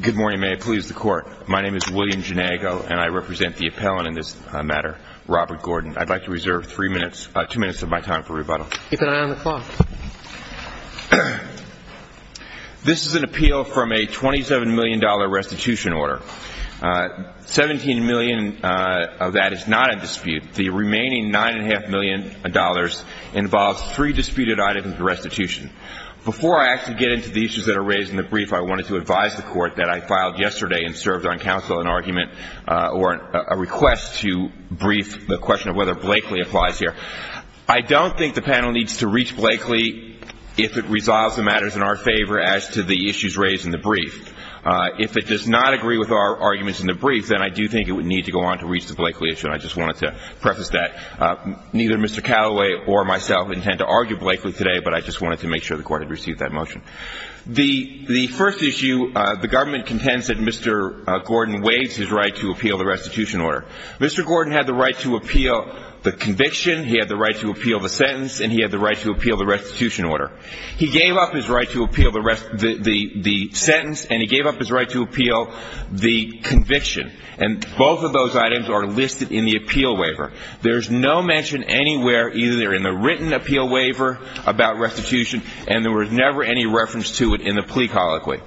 Good morning, may it please the court. My name is William Ginego and I represent the appellant in this matter, Robert Gordon. I'd like to reserve two minutes of my time for rebuttal. Keep an eye on the clock. This is an appeal from a $27 million restitution order. $17 million of that is not in dispute. The remaining $9.5 million involves three disputed items of restitution. Before I actually get into the issues that are raised in the brief, I wanted to advise the court that I filed yesterday and served on counsel an argument or a request to brief the question of whether Blakely applies here. I don't think the panel needs to reach Blakely if it resolves the matters in our favor as to the issues raised in the brief. If it does not agree with our arguments in the brief, then I do think it would need to go on to reach the Blakely issue, and I just wanted to preface that. Neither Mr. Callaway or myself intend to argue Blakely today, but I just wanted to make sure the court had received that motion. The first issue, the government contends that Mr. Gordon waived his right to appeal the restitution order. Mr. Gordon had the right to appeal the conviction, he had the right to appeal the sentence, and he had the right to appeal the restitution order. He gave up his right to appeal the sentence and he gave up his right to appeal the conviction, and both of those items are listed in the appeal waiver. There's no mention anywhere either in the written appeal waiver about restitution, and there was never any reference to it in the plea colloquy.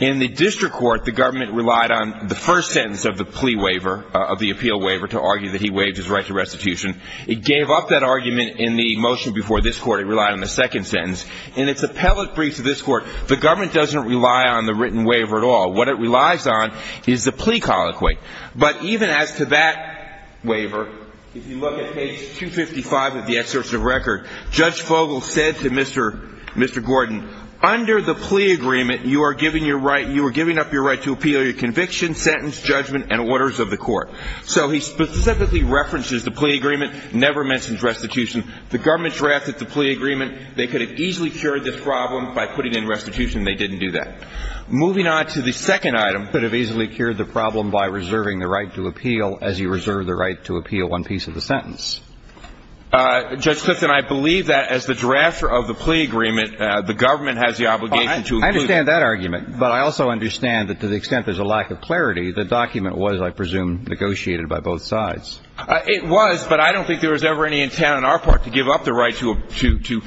In the district court, the government relied on the first sentence of the plea waiver, of the appeal waiver, to argue that he waived his right to restitution. It gave up that argument in the motion before this court. It relied on the second sentence. In its appellate brief to this court, the government doesn't rely on the written waiver at all. What it relies on is the plea colloquy. But even as to that waiver, if you look at page 255 of the excerpt of the record, Judge Fogel said to Mr. Gordon, under the plea agreement, you are giving up your right to appeal your conviction, sentence, judgment, and orders of the court. So he specifically references the plea agreement, never mentions restitution. The government drafted the plea agreement. They could have easily cured this problem by putting in restitution. They didn't do that. Moving on to the second item. They could have easily cured the problem by reserving the right to appeal as you reserve the right to appeal one piece of the sentence. Judge Clifton, I believe that as the drafter of the plea agreement, the government has the obligation to include it. I understand that argument. But I also understand that to the extent there's a lack of clarity, the document was, I presume, negotiated by both sides. It was, but I don't think there was ever any intent on our part to give up the right to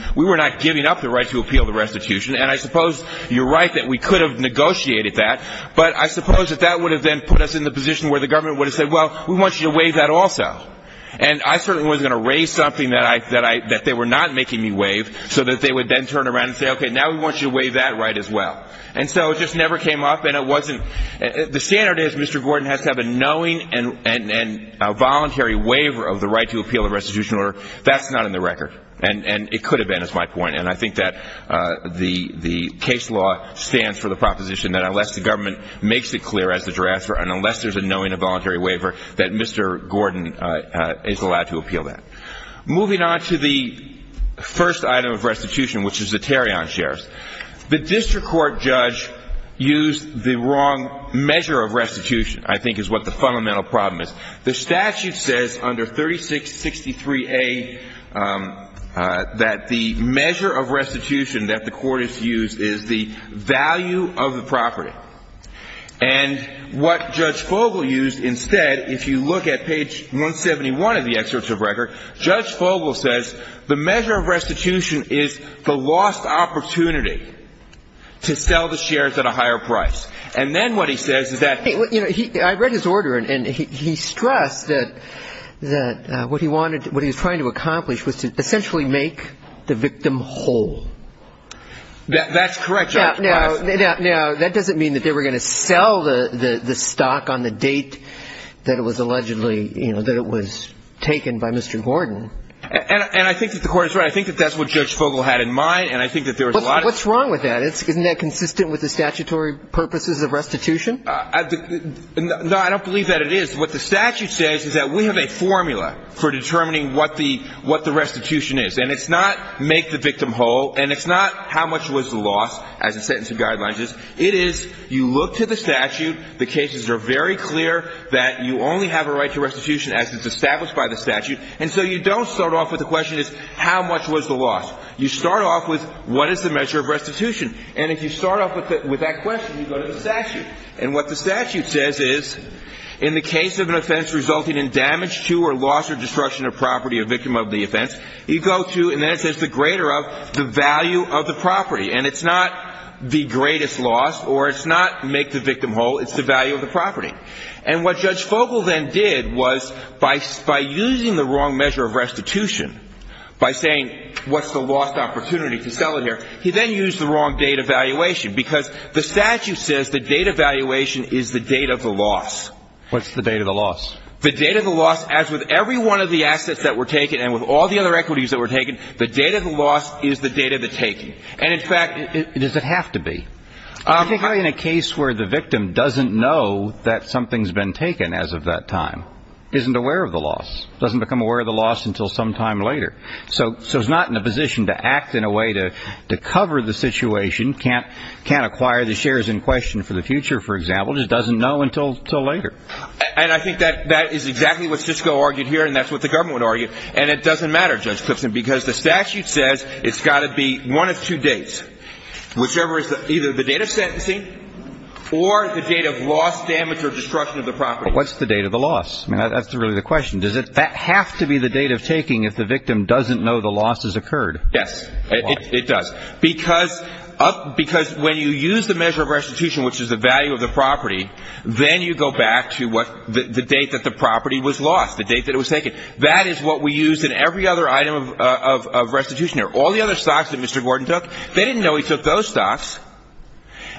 – we were not giving up the right to appeal the restitution. And I suppose you're right that we could have negotiated that. But I suppose that that would have then put us in the position where the government would have said, well, we want you to waive that also. And I certainly wasn't going to raise something that they were not making me waive so that they would then turn around and say, okay, now we want you to waive that right as well. And so it just never came up, and it wasn't – the standard is Mr. Gordon has to have a knowing and a voluntary waiver of the right to appeal the restitution order. That's not in the record. And it could have been, is my point. And I think that the case law stands for the proposition that unless the government makes it clear as to transfer and unless there's a knowing and a voluntary waiver, that Mr. Gordon is allowed to appeal that. Moving on to the first item of restitution, which is the Tarion shares. The district court judge used the wrong measure of restitution, I think, is what the fundamental problem is. The statute says under 3663A that the measure of restitution that the court has used is the value of the property. And what Judge Fogel used instead, if you look at page 171 of the excerpt of record, Judge Fogel says the measure of restitution is the lost opportunity to sell the shares at a higher price. And then what he says is that – he stressed that what he wanted – what he was trying to accomplish was to essentially make the victim whole. That's correct, Your Honor. Now, that doesn't mean that they were going to sell the stock on the date that it was allegedly – that it was taken by Mr. Gordon. And I think that the court is right. I think that that's what Judge Fogel had in mind, and I think that there was a lot of – What's wrong with that? Isn't that consistent with the statutory purposes of restitution? No, I don't believe that it is. What the statute says is that we have a formula for determining what the restitution is. And it's not make the victim whole, and it's not how much was the loss as a sentence of guidelines is. It is you look to the statute. The cases are very clear that you only have a right to restitution as is established by the statute. And so you don't start off with the question is how much was the loss. You start off with what is the measure of restitution. And if you start off with that question, you go to the statute. And what the statute says is in the case of an offense resulting in damage to or loss or destruction of property or victim of the offense, you go to – and then it says the greater of the value of the property. And it's not the greatest loss or it's not make the victim whole. It's the value of the property. And what Judge Fogel then did was by using the wrong measure of restitution, by saying what's the lost opportunity to sell it here, he then used the wrong date evaluation because the statute says the date evaluation is the date of the loss. What's the date of the loss? The date of the loss as with every one of the assets that were taken and with all the other equities that were taken, the date of the loss is the date of the taking. And, in fact, does it have to be? I think in a case where the victim doesn't know that something's been taken as of that time, isn't aware of the loss, doesn't become aware of the loss until sometime later. So he's not in a position to act in a way to cover the situation, can't acquire the shares in question for the future, for example, just doesn't know until later. And I think that is exactly what Sysco argued here and that's what the government would argue. And it doesn't matter, Judge Clipson, because the statute says it's got to be one of two dates, whichever is either the date of sentencing or the date of loss, damage, or destruction of the property. What's the date of the loss? I mean, that's really the question. Does it have to be the date of taking if the victim doesn't know the loss has occurred? Yes, it does. Because when you use the measure of restitution, which is the value of the property, then you go back to the date that the property was lost, the date that it was taken. That is what we use in every other item of restitution here. All the other stocks that Mr. Gordon took, they didn't know he took those stocks,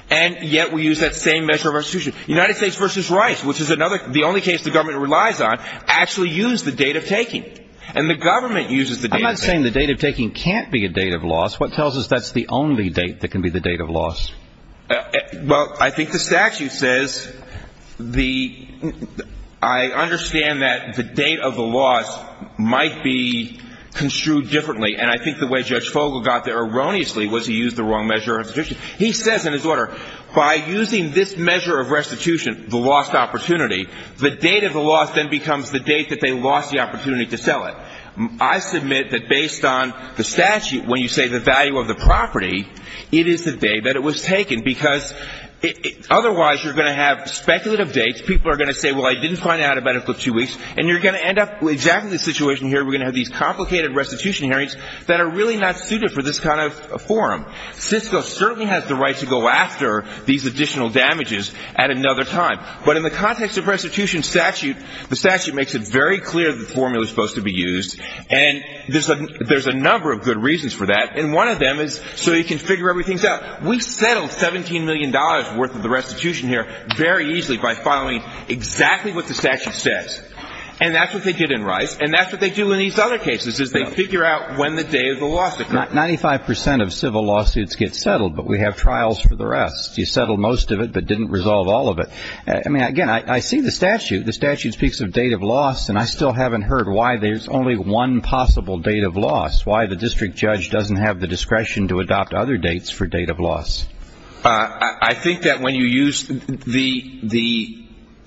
and yet we use that same measure of restitution. United States v. Rice, which is the only case the government relies on, actually used the date of taking. And the government uses the date of taking. I'm not saying the date of taking can't be a date of loss. What tells us that's the only date that can be the date of loss? Well, I think the statute says the – I understand that the date of the loss might be construed differently, and I think the way Judge Fogle got there erroneously was he used the wrong measure of restitution. He says in his order, by using this measure of restitution, the lost opportunity, the date of the loss then becomes the date that they lost the opportunity to sell it. I submit that based on the statute, when you say the value of the property, it is the day that it was taken, because otherwise you're going to have speculative dates. People are going to say, well, I didn't find out about it for two weeks. And you're going to end up with exactly the situation here. We're going to have these complicated restitution hearings that are really not suited for this kind of forum. Cisco certainly has the right to go after these additional damages at another time. But in the context of restitution statute, the statute makes it very clear the formula is supposed to be used, and there's a number of good reasons for that, and one of them is so you can figure everything out. We settled $17 million worth of the restitution here very easily by following exactly what the statute says. And that's what they did in Rice, and that's what they do in these other cases, is they figure out when the day of the loss occurred. 95 percent of civil lawsuits get settled, but we have trials for the rest. You settled most of it but didn't resolve all of it. I mean, again, I see the statute. The statute speaks of date of loss, and I still haven't heard why there's only one possible date of loss, why the district judge doesn't have the discretion to adopt other dates for date of loss. I think that when you use the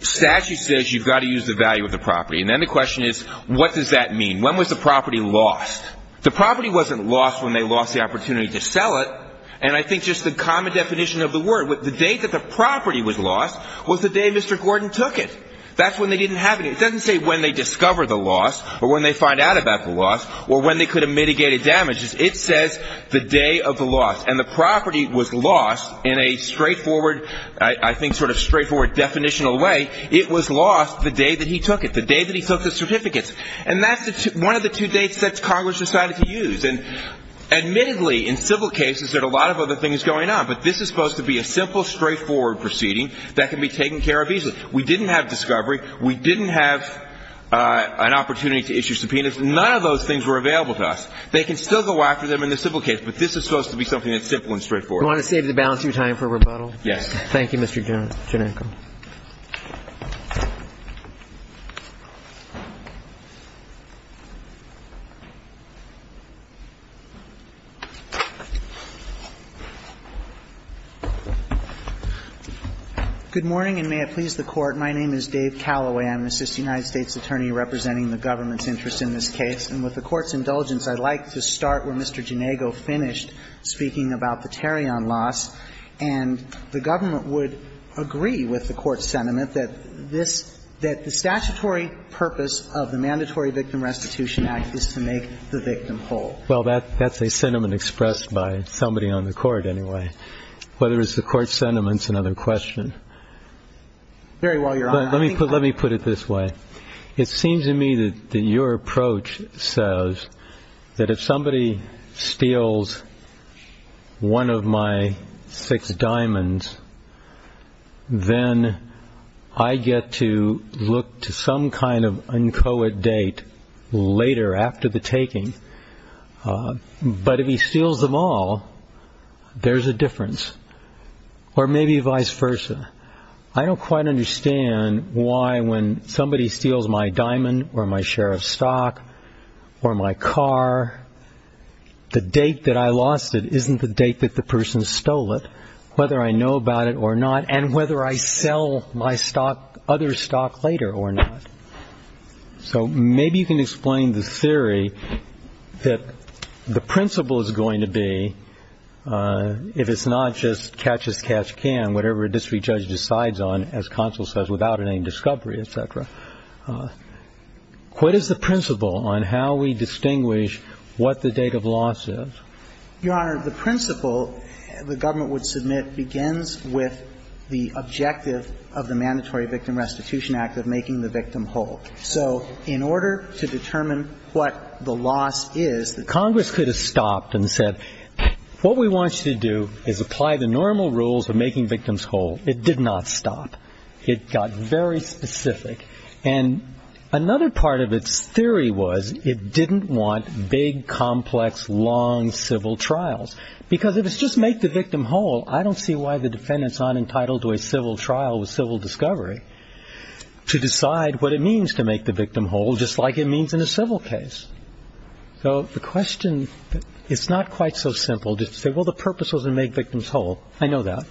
statute says you've got to use the value of the property, and then the question is, what does that mean? When was the property lost? The property wasn't lost when they lost the opportunity to sell it, and I think just the common definition of the word, the date that the property was lost was the day Mr. Gordon took it. That's when they didn't have it. It doesn't say when they discovered the loss or when they find out about the loss or when they could have mitigated damages. It says the day of the loss, and the property was lost in a straightforward, I think sort of straightforward definitional way. It was lost the day that he took it, the day that he took the certificates. And that's one of the two dates that Congress decided to use. And admittedly, in civil cases, there are a lot of other things going on, but this is supposed to be a simple, straightforward proceeding that can be taken care of easily. We didn't have discovery. We didn't have an opportunity to issue subpoenas. None of those things were available to us. They can still go after them in the civil case, but this is supposed to be something that's simple and straightforward. You want to save the balance of your time for rebuttal? Yes. Thank you, Mr. Janenko. Good morning, and may it please the Court. My name is Dave Calloway. I'm an assistant United States attorney representing the government's interest in this case. And with the Court's indulgence, I'd like to start where Mr. Janenko finished speaking about the Tarion loss. And the government would agree with the Court's sentiment that this – that the statutory purpose of the Mandatory Victim Restitution Act is to make the victim whole. Well, that's a sentiment expressed by somebody on the Court anyway. Whether it's the Court's sentiment is another question. Very well, Your Honor. Let me put it this way. It seems to me that your approach says that if somebody steals one of my six diamonds, then I get to look to some kind of uncoet date later, after the taking. But if he steals them all, there's a difference. Or maybe vice versa. I don't quite understand why when somebody steals my diamond or my share of stock or my car, the date that I lost it isn't the date that the person stole it, whether I know about it or not, and whether I sell my other stock later or not. So maybe you can explain the theory that the principle is going to be, if it's not just catch-as-catch-can, whatever a district judge decides on, as counsel says, without any discovery, et cetera. What is the principle on how we distinguish what the date of loss is? Your Honor, the principle the government would submit begins with the objective of the Mandatory Victim Restitution Act of making the victim whole. So in order to determine what the loss is, the Congress could have stopped and said, what we want you to do is apply the normal rules of making victims whole. It did not stop. It got very specific. And another part of its theory was it didn't want big, complex, long civil trials. Because if it's just make the victim whole, I don't see why the defendant's not entitled to a civil trial with civil discovery to decide what it means to make the victim whole, just like it means in a civil case. So the question, it's not quite so simple just to say, well, the purpose was to make victims whole. I know that.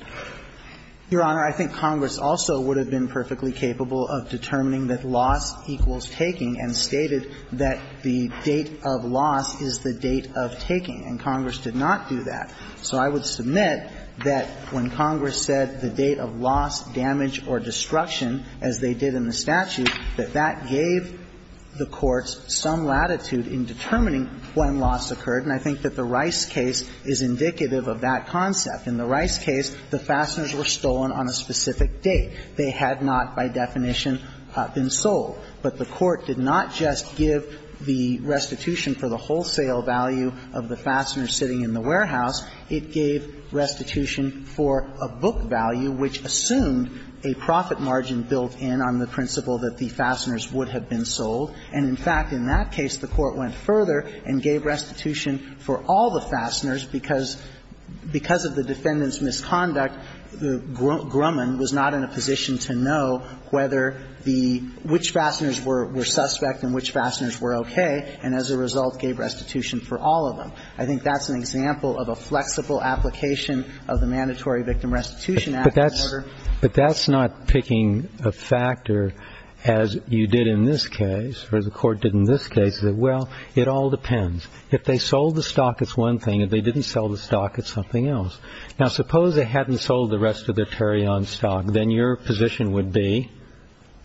Your Honor, I think Congress also would have been perfectly capable of determining that loss equals taking and stated that the date of loss is the date of taking. And Congress did not do that. So I would submit that when Congress said the date of loss, damage or destruction, as they did in the statute, that that gave the courts some latitude in determining when loss occurred. And I think that the Rice case is indicative of that concept. In the Rice case, the fasteners were stolen on a specific date. They had not, by definition, been sold. But the Court did not just give the restitution for the wholesale value of the fasteners sitting in the warehouse. It gave restitution for a book value, which assumed a profit margin built in on the principle that the fasteners would have been sold. And in fact, in that case, the Court went further and gave restitution for all the fasteners, because of the defendant's misconduct, Grumman was not in a position to know whether the – which fasteners were suspect and which fasteners were okay, and as a result gave restitution for all of them. I think that's an example of a flexible application of the Mandatory Victim Restitution Act. But that's not picking a factor, as you did in this case, or as the Court did in this case, that, well, it all depends. If they sold the stock, it's one thing. If they didn't sell the stock, it's something else. Now, suppose they hadn't sold the rest of their Tarion stock. Then your position would be?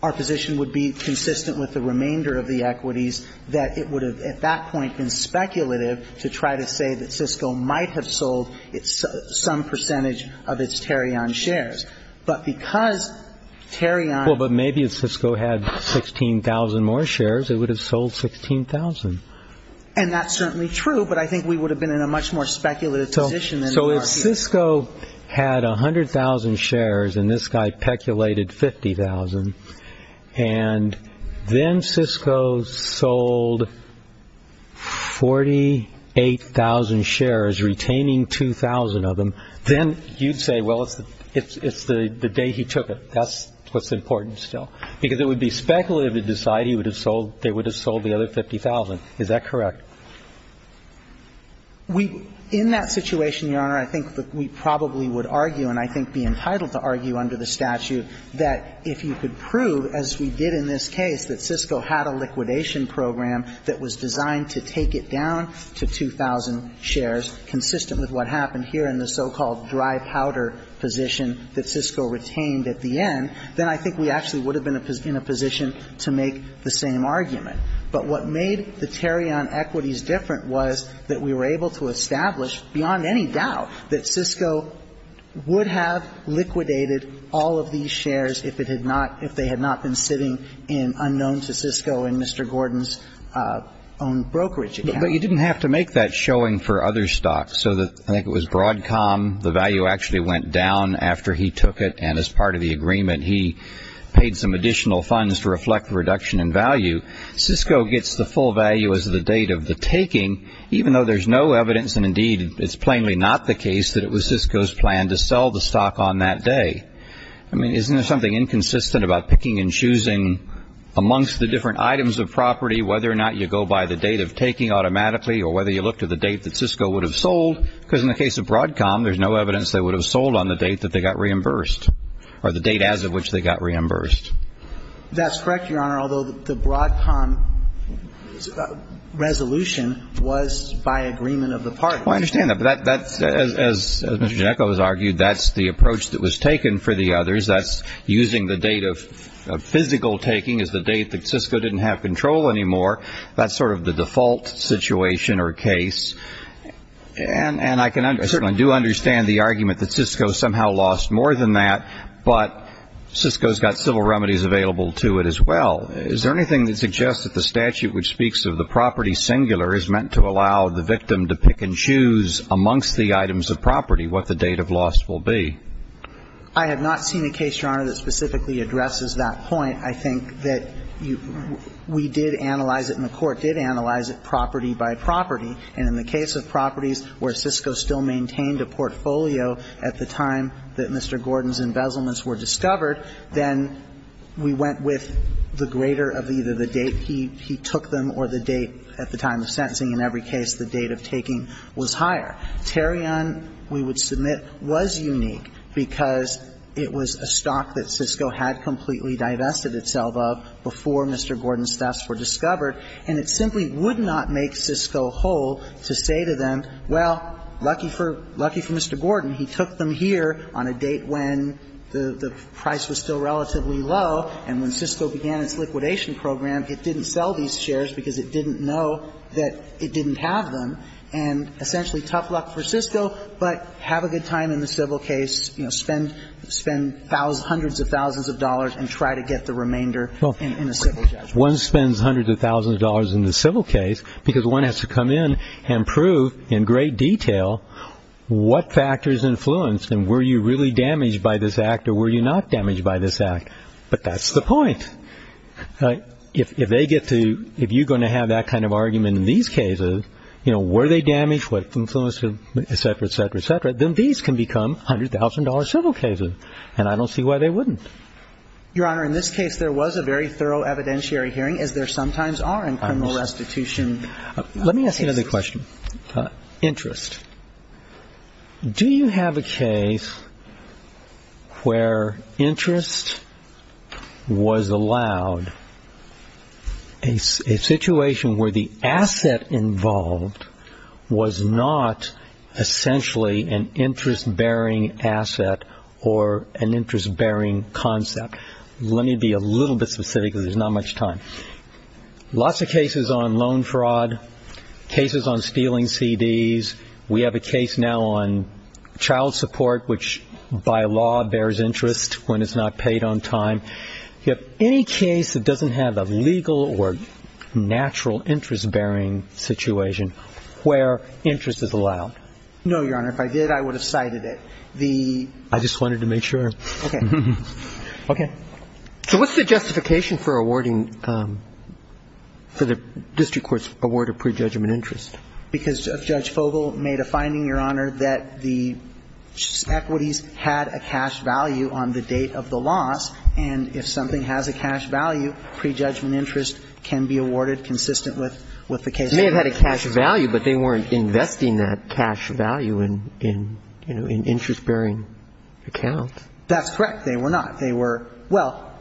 Our position would be, consistent with the remainder of the equities, that it would have, at that point, been speculative to try to say that Cisco might have sold some percentage of its Tarion shares. But because Tarion – Well, but maybe if Cisco had 16,000 more shares, it would have sold 16,000. And that's certainly true, but I think we would have been in a much more speculative position than we are here. If Cisco had 100,000 shares, and this guy peculated 50,000, and then Cisco sold 48,000 shares, retaining 2,000 of them, then you'd say, well, it's the day he took it. That's what's important still. Because it would be speculative to decide they would have sold the other 50,000. Is that correct? We – in that situation, Your Honor, I think that we probably would argue, and I think be entitled to argue under the statute, that if you could prove, as we did in this case, that Cisco had a liquidation program that was designed to take it down to 2,000 shares, consistent with what happened here in the so-called dry powder position that Cisco retained at the end, then I think we actually would have been in a position to make the same argument. But what made the Tarion equities different was that we were able to establish, beyond any doubt, that Cisco would have liquidated all of these shares if it had not – if they had not been sitting in unknown to Cisco in Mr. Gordon's own brokerage account. But you didn't have to make that showing for other stocks. So I think it was Broadcom, the value actually went down after he took it, and as part of the agreement, he paid some additional funds to reflect the reduction in value. Cisco gets the full value as the date of the taking, even though there's no evidence, and indeed it's plainly not the case, that it was Cisco's plan to sell the stock on that day. I mean, isn't there something inconsistent about picking and choosing amongst the different items of property whether or not you go by the date of taking automatically or whether you look to the date that Cisco would have sold? Because in the case of Broadcom, there's no evidence they would have sold on the date that they got reimbursed, or the date as of which they got reimbursed. That's correct, Your Honor, although the Broadcom resolution was by agreement of the parties. Well, I understand that. But that's – as Mr. Ginecco has argued, that's the approach that was taken for the others. That's using the date of physical taking as the date that Cisco didn't have control anymore. That's sort of the default situation or case. And I can – I certainly do understand the argument that Cisco somehow lost more than that, but Cisco's got civil remedies available to it as well. Is there anything that suggests that the statute which speaks of the property singular is meant to allow the victim to pick and choose amongst the items of property what the date of loss will be? I have not seen a case, Your Honor, that specifically addresses that point. I think that you – we did analyze it and the Court did analyze it property by property. And in the case of properties where Cisco still maintained a portfolio at the time that Mr. Gordon's embezzlements were discovered, then we went with the greater of either the date he took them or the date at the time of sentencing. In every case, the date of taking was higher. Tarion, we would submit, was unique because it was a stock that Cisco had completely And it simply would not make Cisco whole to say to them, well, lucky for – lucky for Mr. Gordon, he took them here on a date when the price was still relatively low, and when Cisco began its liquidation program, it didn't sell these shares because it didn't know that it didn't have them. And essentially, tough luck for Cisco, but have a good time in the civil case, you know, spend hundreds of thousands of dollars and try to get the remainder in a civil judgment. One spends hundreds of thousands of dollars in the civil case because one has to come in and prove in great detail what factors influenced and were you really damaged by this act or were you not damaged by this act. But that's the point. If they get to – if you're going to have that kind of argument in these cases, you know, were they damaged, what influence, et cetera, et cetera, et cetera, then these can become $100,000 civil cases. And I don't see why they wouldn't. Your Honor, in this case, there was a very thorough evidentiary hearing, as there sometimes are in criminal restitution cases. Let me ask you another question. Interest. Do you have a case where interest was allowed, a situation where the asset involved was not essentially an interest-bearing asset or an interest-bearing concept? Let me be a little bit specific because there's not much time. Lots of cases on loan fraud, cases on stealing CDs. We have a case now on child support, which by law bears interest when it's not paid on time. Do you have any case that doesn't have a legal or natural interest-bearing situation where interest is allowed? No, Your Honor. If I did, I would have cited it. I just wanted to make sure. Okay. Okay. So what's the justification for awarding – for the district court's award of prejudgment interest? Because Judge Fogle made a finding, Your Honor, that the equities had a cash value on the date of the loss, and if something has a cash value, prejudgment interest can be awarded consistent with the case. It may have had a cash value, but they weren't investing that cash value in, you know, an interest-bearing account. That's correct. They were not. They were – well,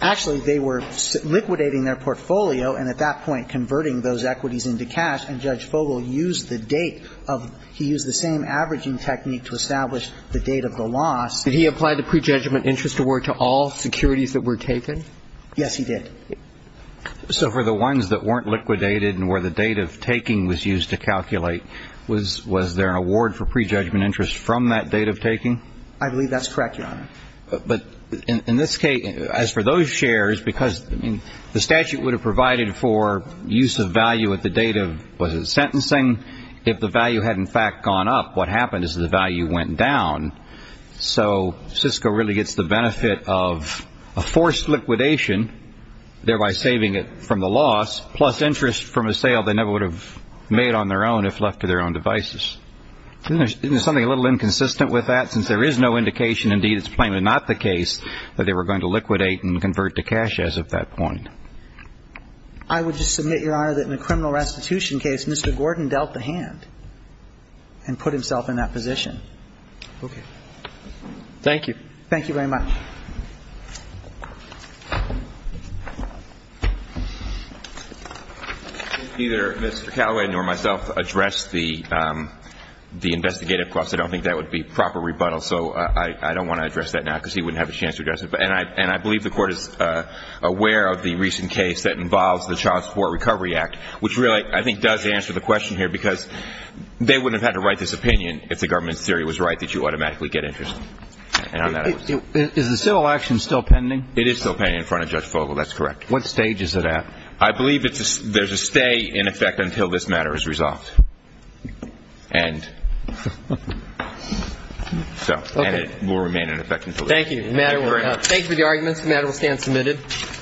actually, they were liquidating their portfolio, and at that point converting those equities into cash, and Judge Fogle used the date of – he used the same averaging technique to establish the date of the loss. Did he apply the prejudgment interest award to all securities that were taken? Yes, he did. So for the ones that weren't liquidated and where the date of taking was used to calculate, was there an award for prejudgment interest from that date of taking? I believe that's correct, Your Honor. But in this case, as for those shares, because, I mean, the statute would have provided for use of value at the date of – was it sentencing? If the value had, in fact, gone up, what happened is the value went down. So Cisco really gets the benefit of a forced liquidation, thereby saving it from the loss, plus interest from a sale they never would have made on their own if left to their own devices. Isn't there something a little inconsistent with that? Since there is no indication, indeed, it's plainly not the case, that they were going to liquidate and convert to cash as of that point. I would just submit, Your Honor, that in the criminal restitution case, Mr. Gordon dealt the hand and put himself in that position. Okay. Thank you. Thank you very much. Did either Mr. Callaway nor myself address the investigative process? I don't think that would be proper rebuttal, so I don't want to address that now because he wouldn't have a chance to address it. And I believe the Court is aware of the recent case that involves the Child Support Recovery Act, which really, I think, does answer the question here, because they wouldn't have had to write this opinion if the government's theory was right, that you automatically get interest. Is the civil action still pending? It is still pending in front of Judge Fogle. That's correct. What stage is it at? I believe there's a stay in effect until this matter is resolved. And it will remain in effect until then. Thank you. Thank you very much. Thank you for the arguments. The matter will stand submitted. Thank you.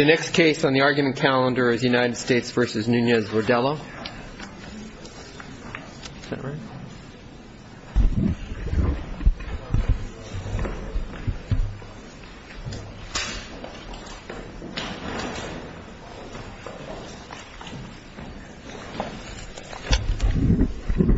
The next case on the argument calendar is United States v. Nunez-Rodillo. Is that right?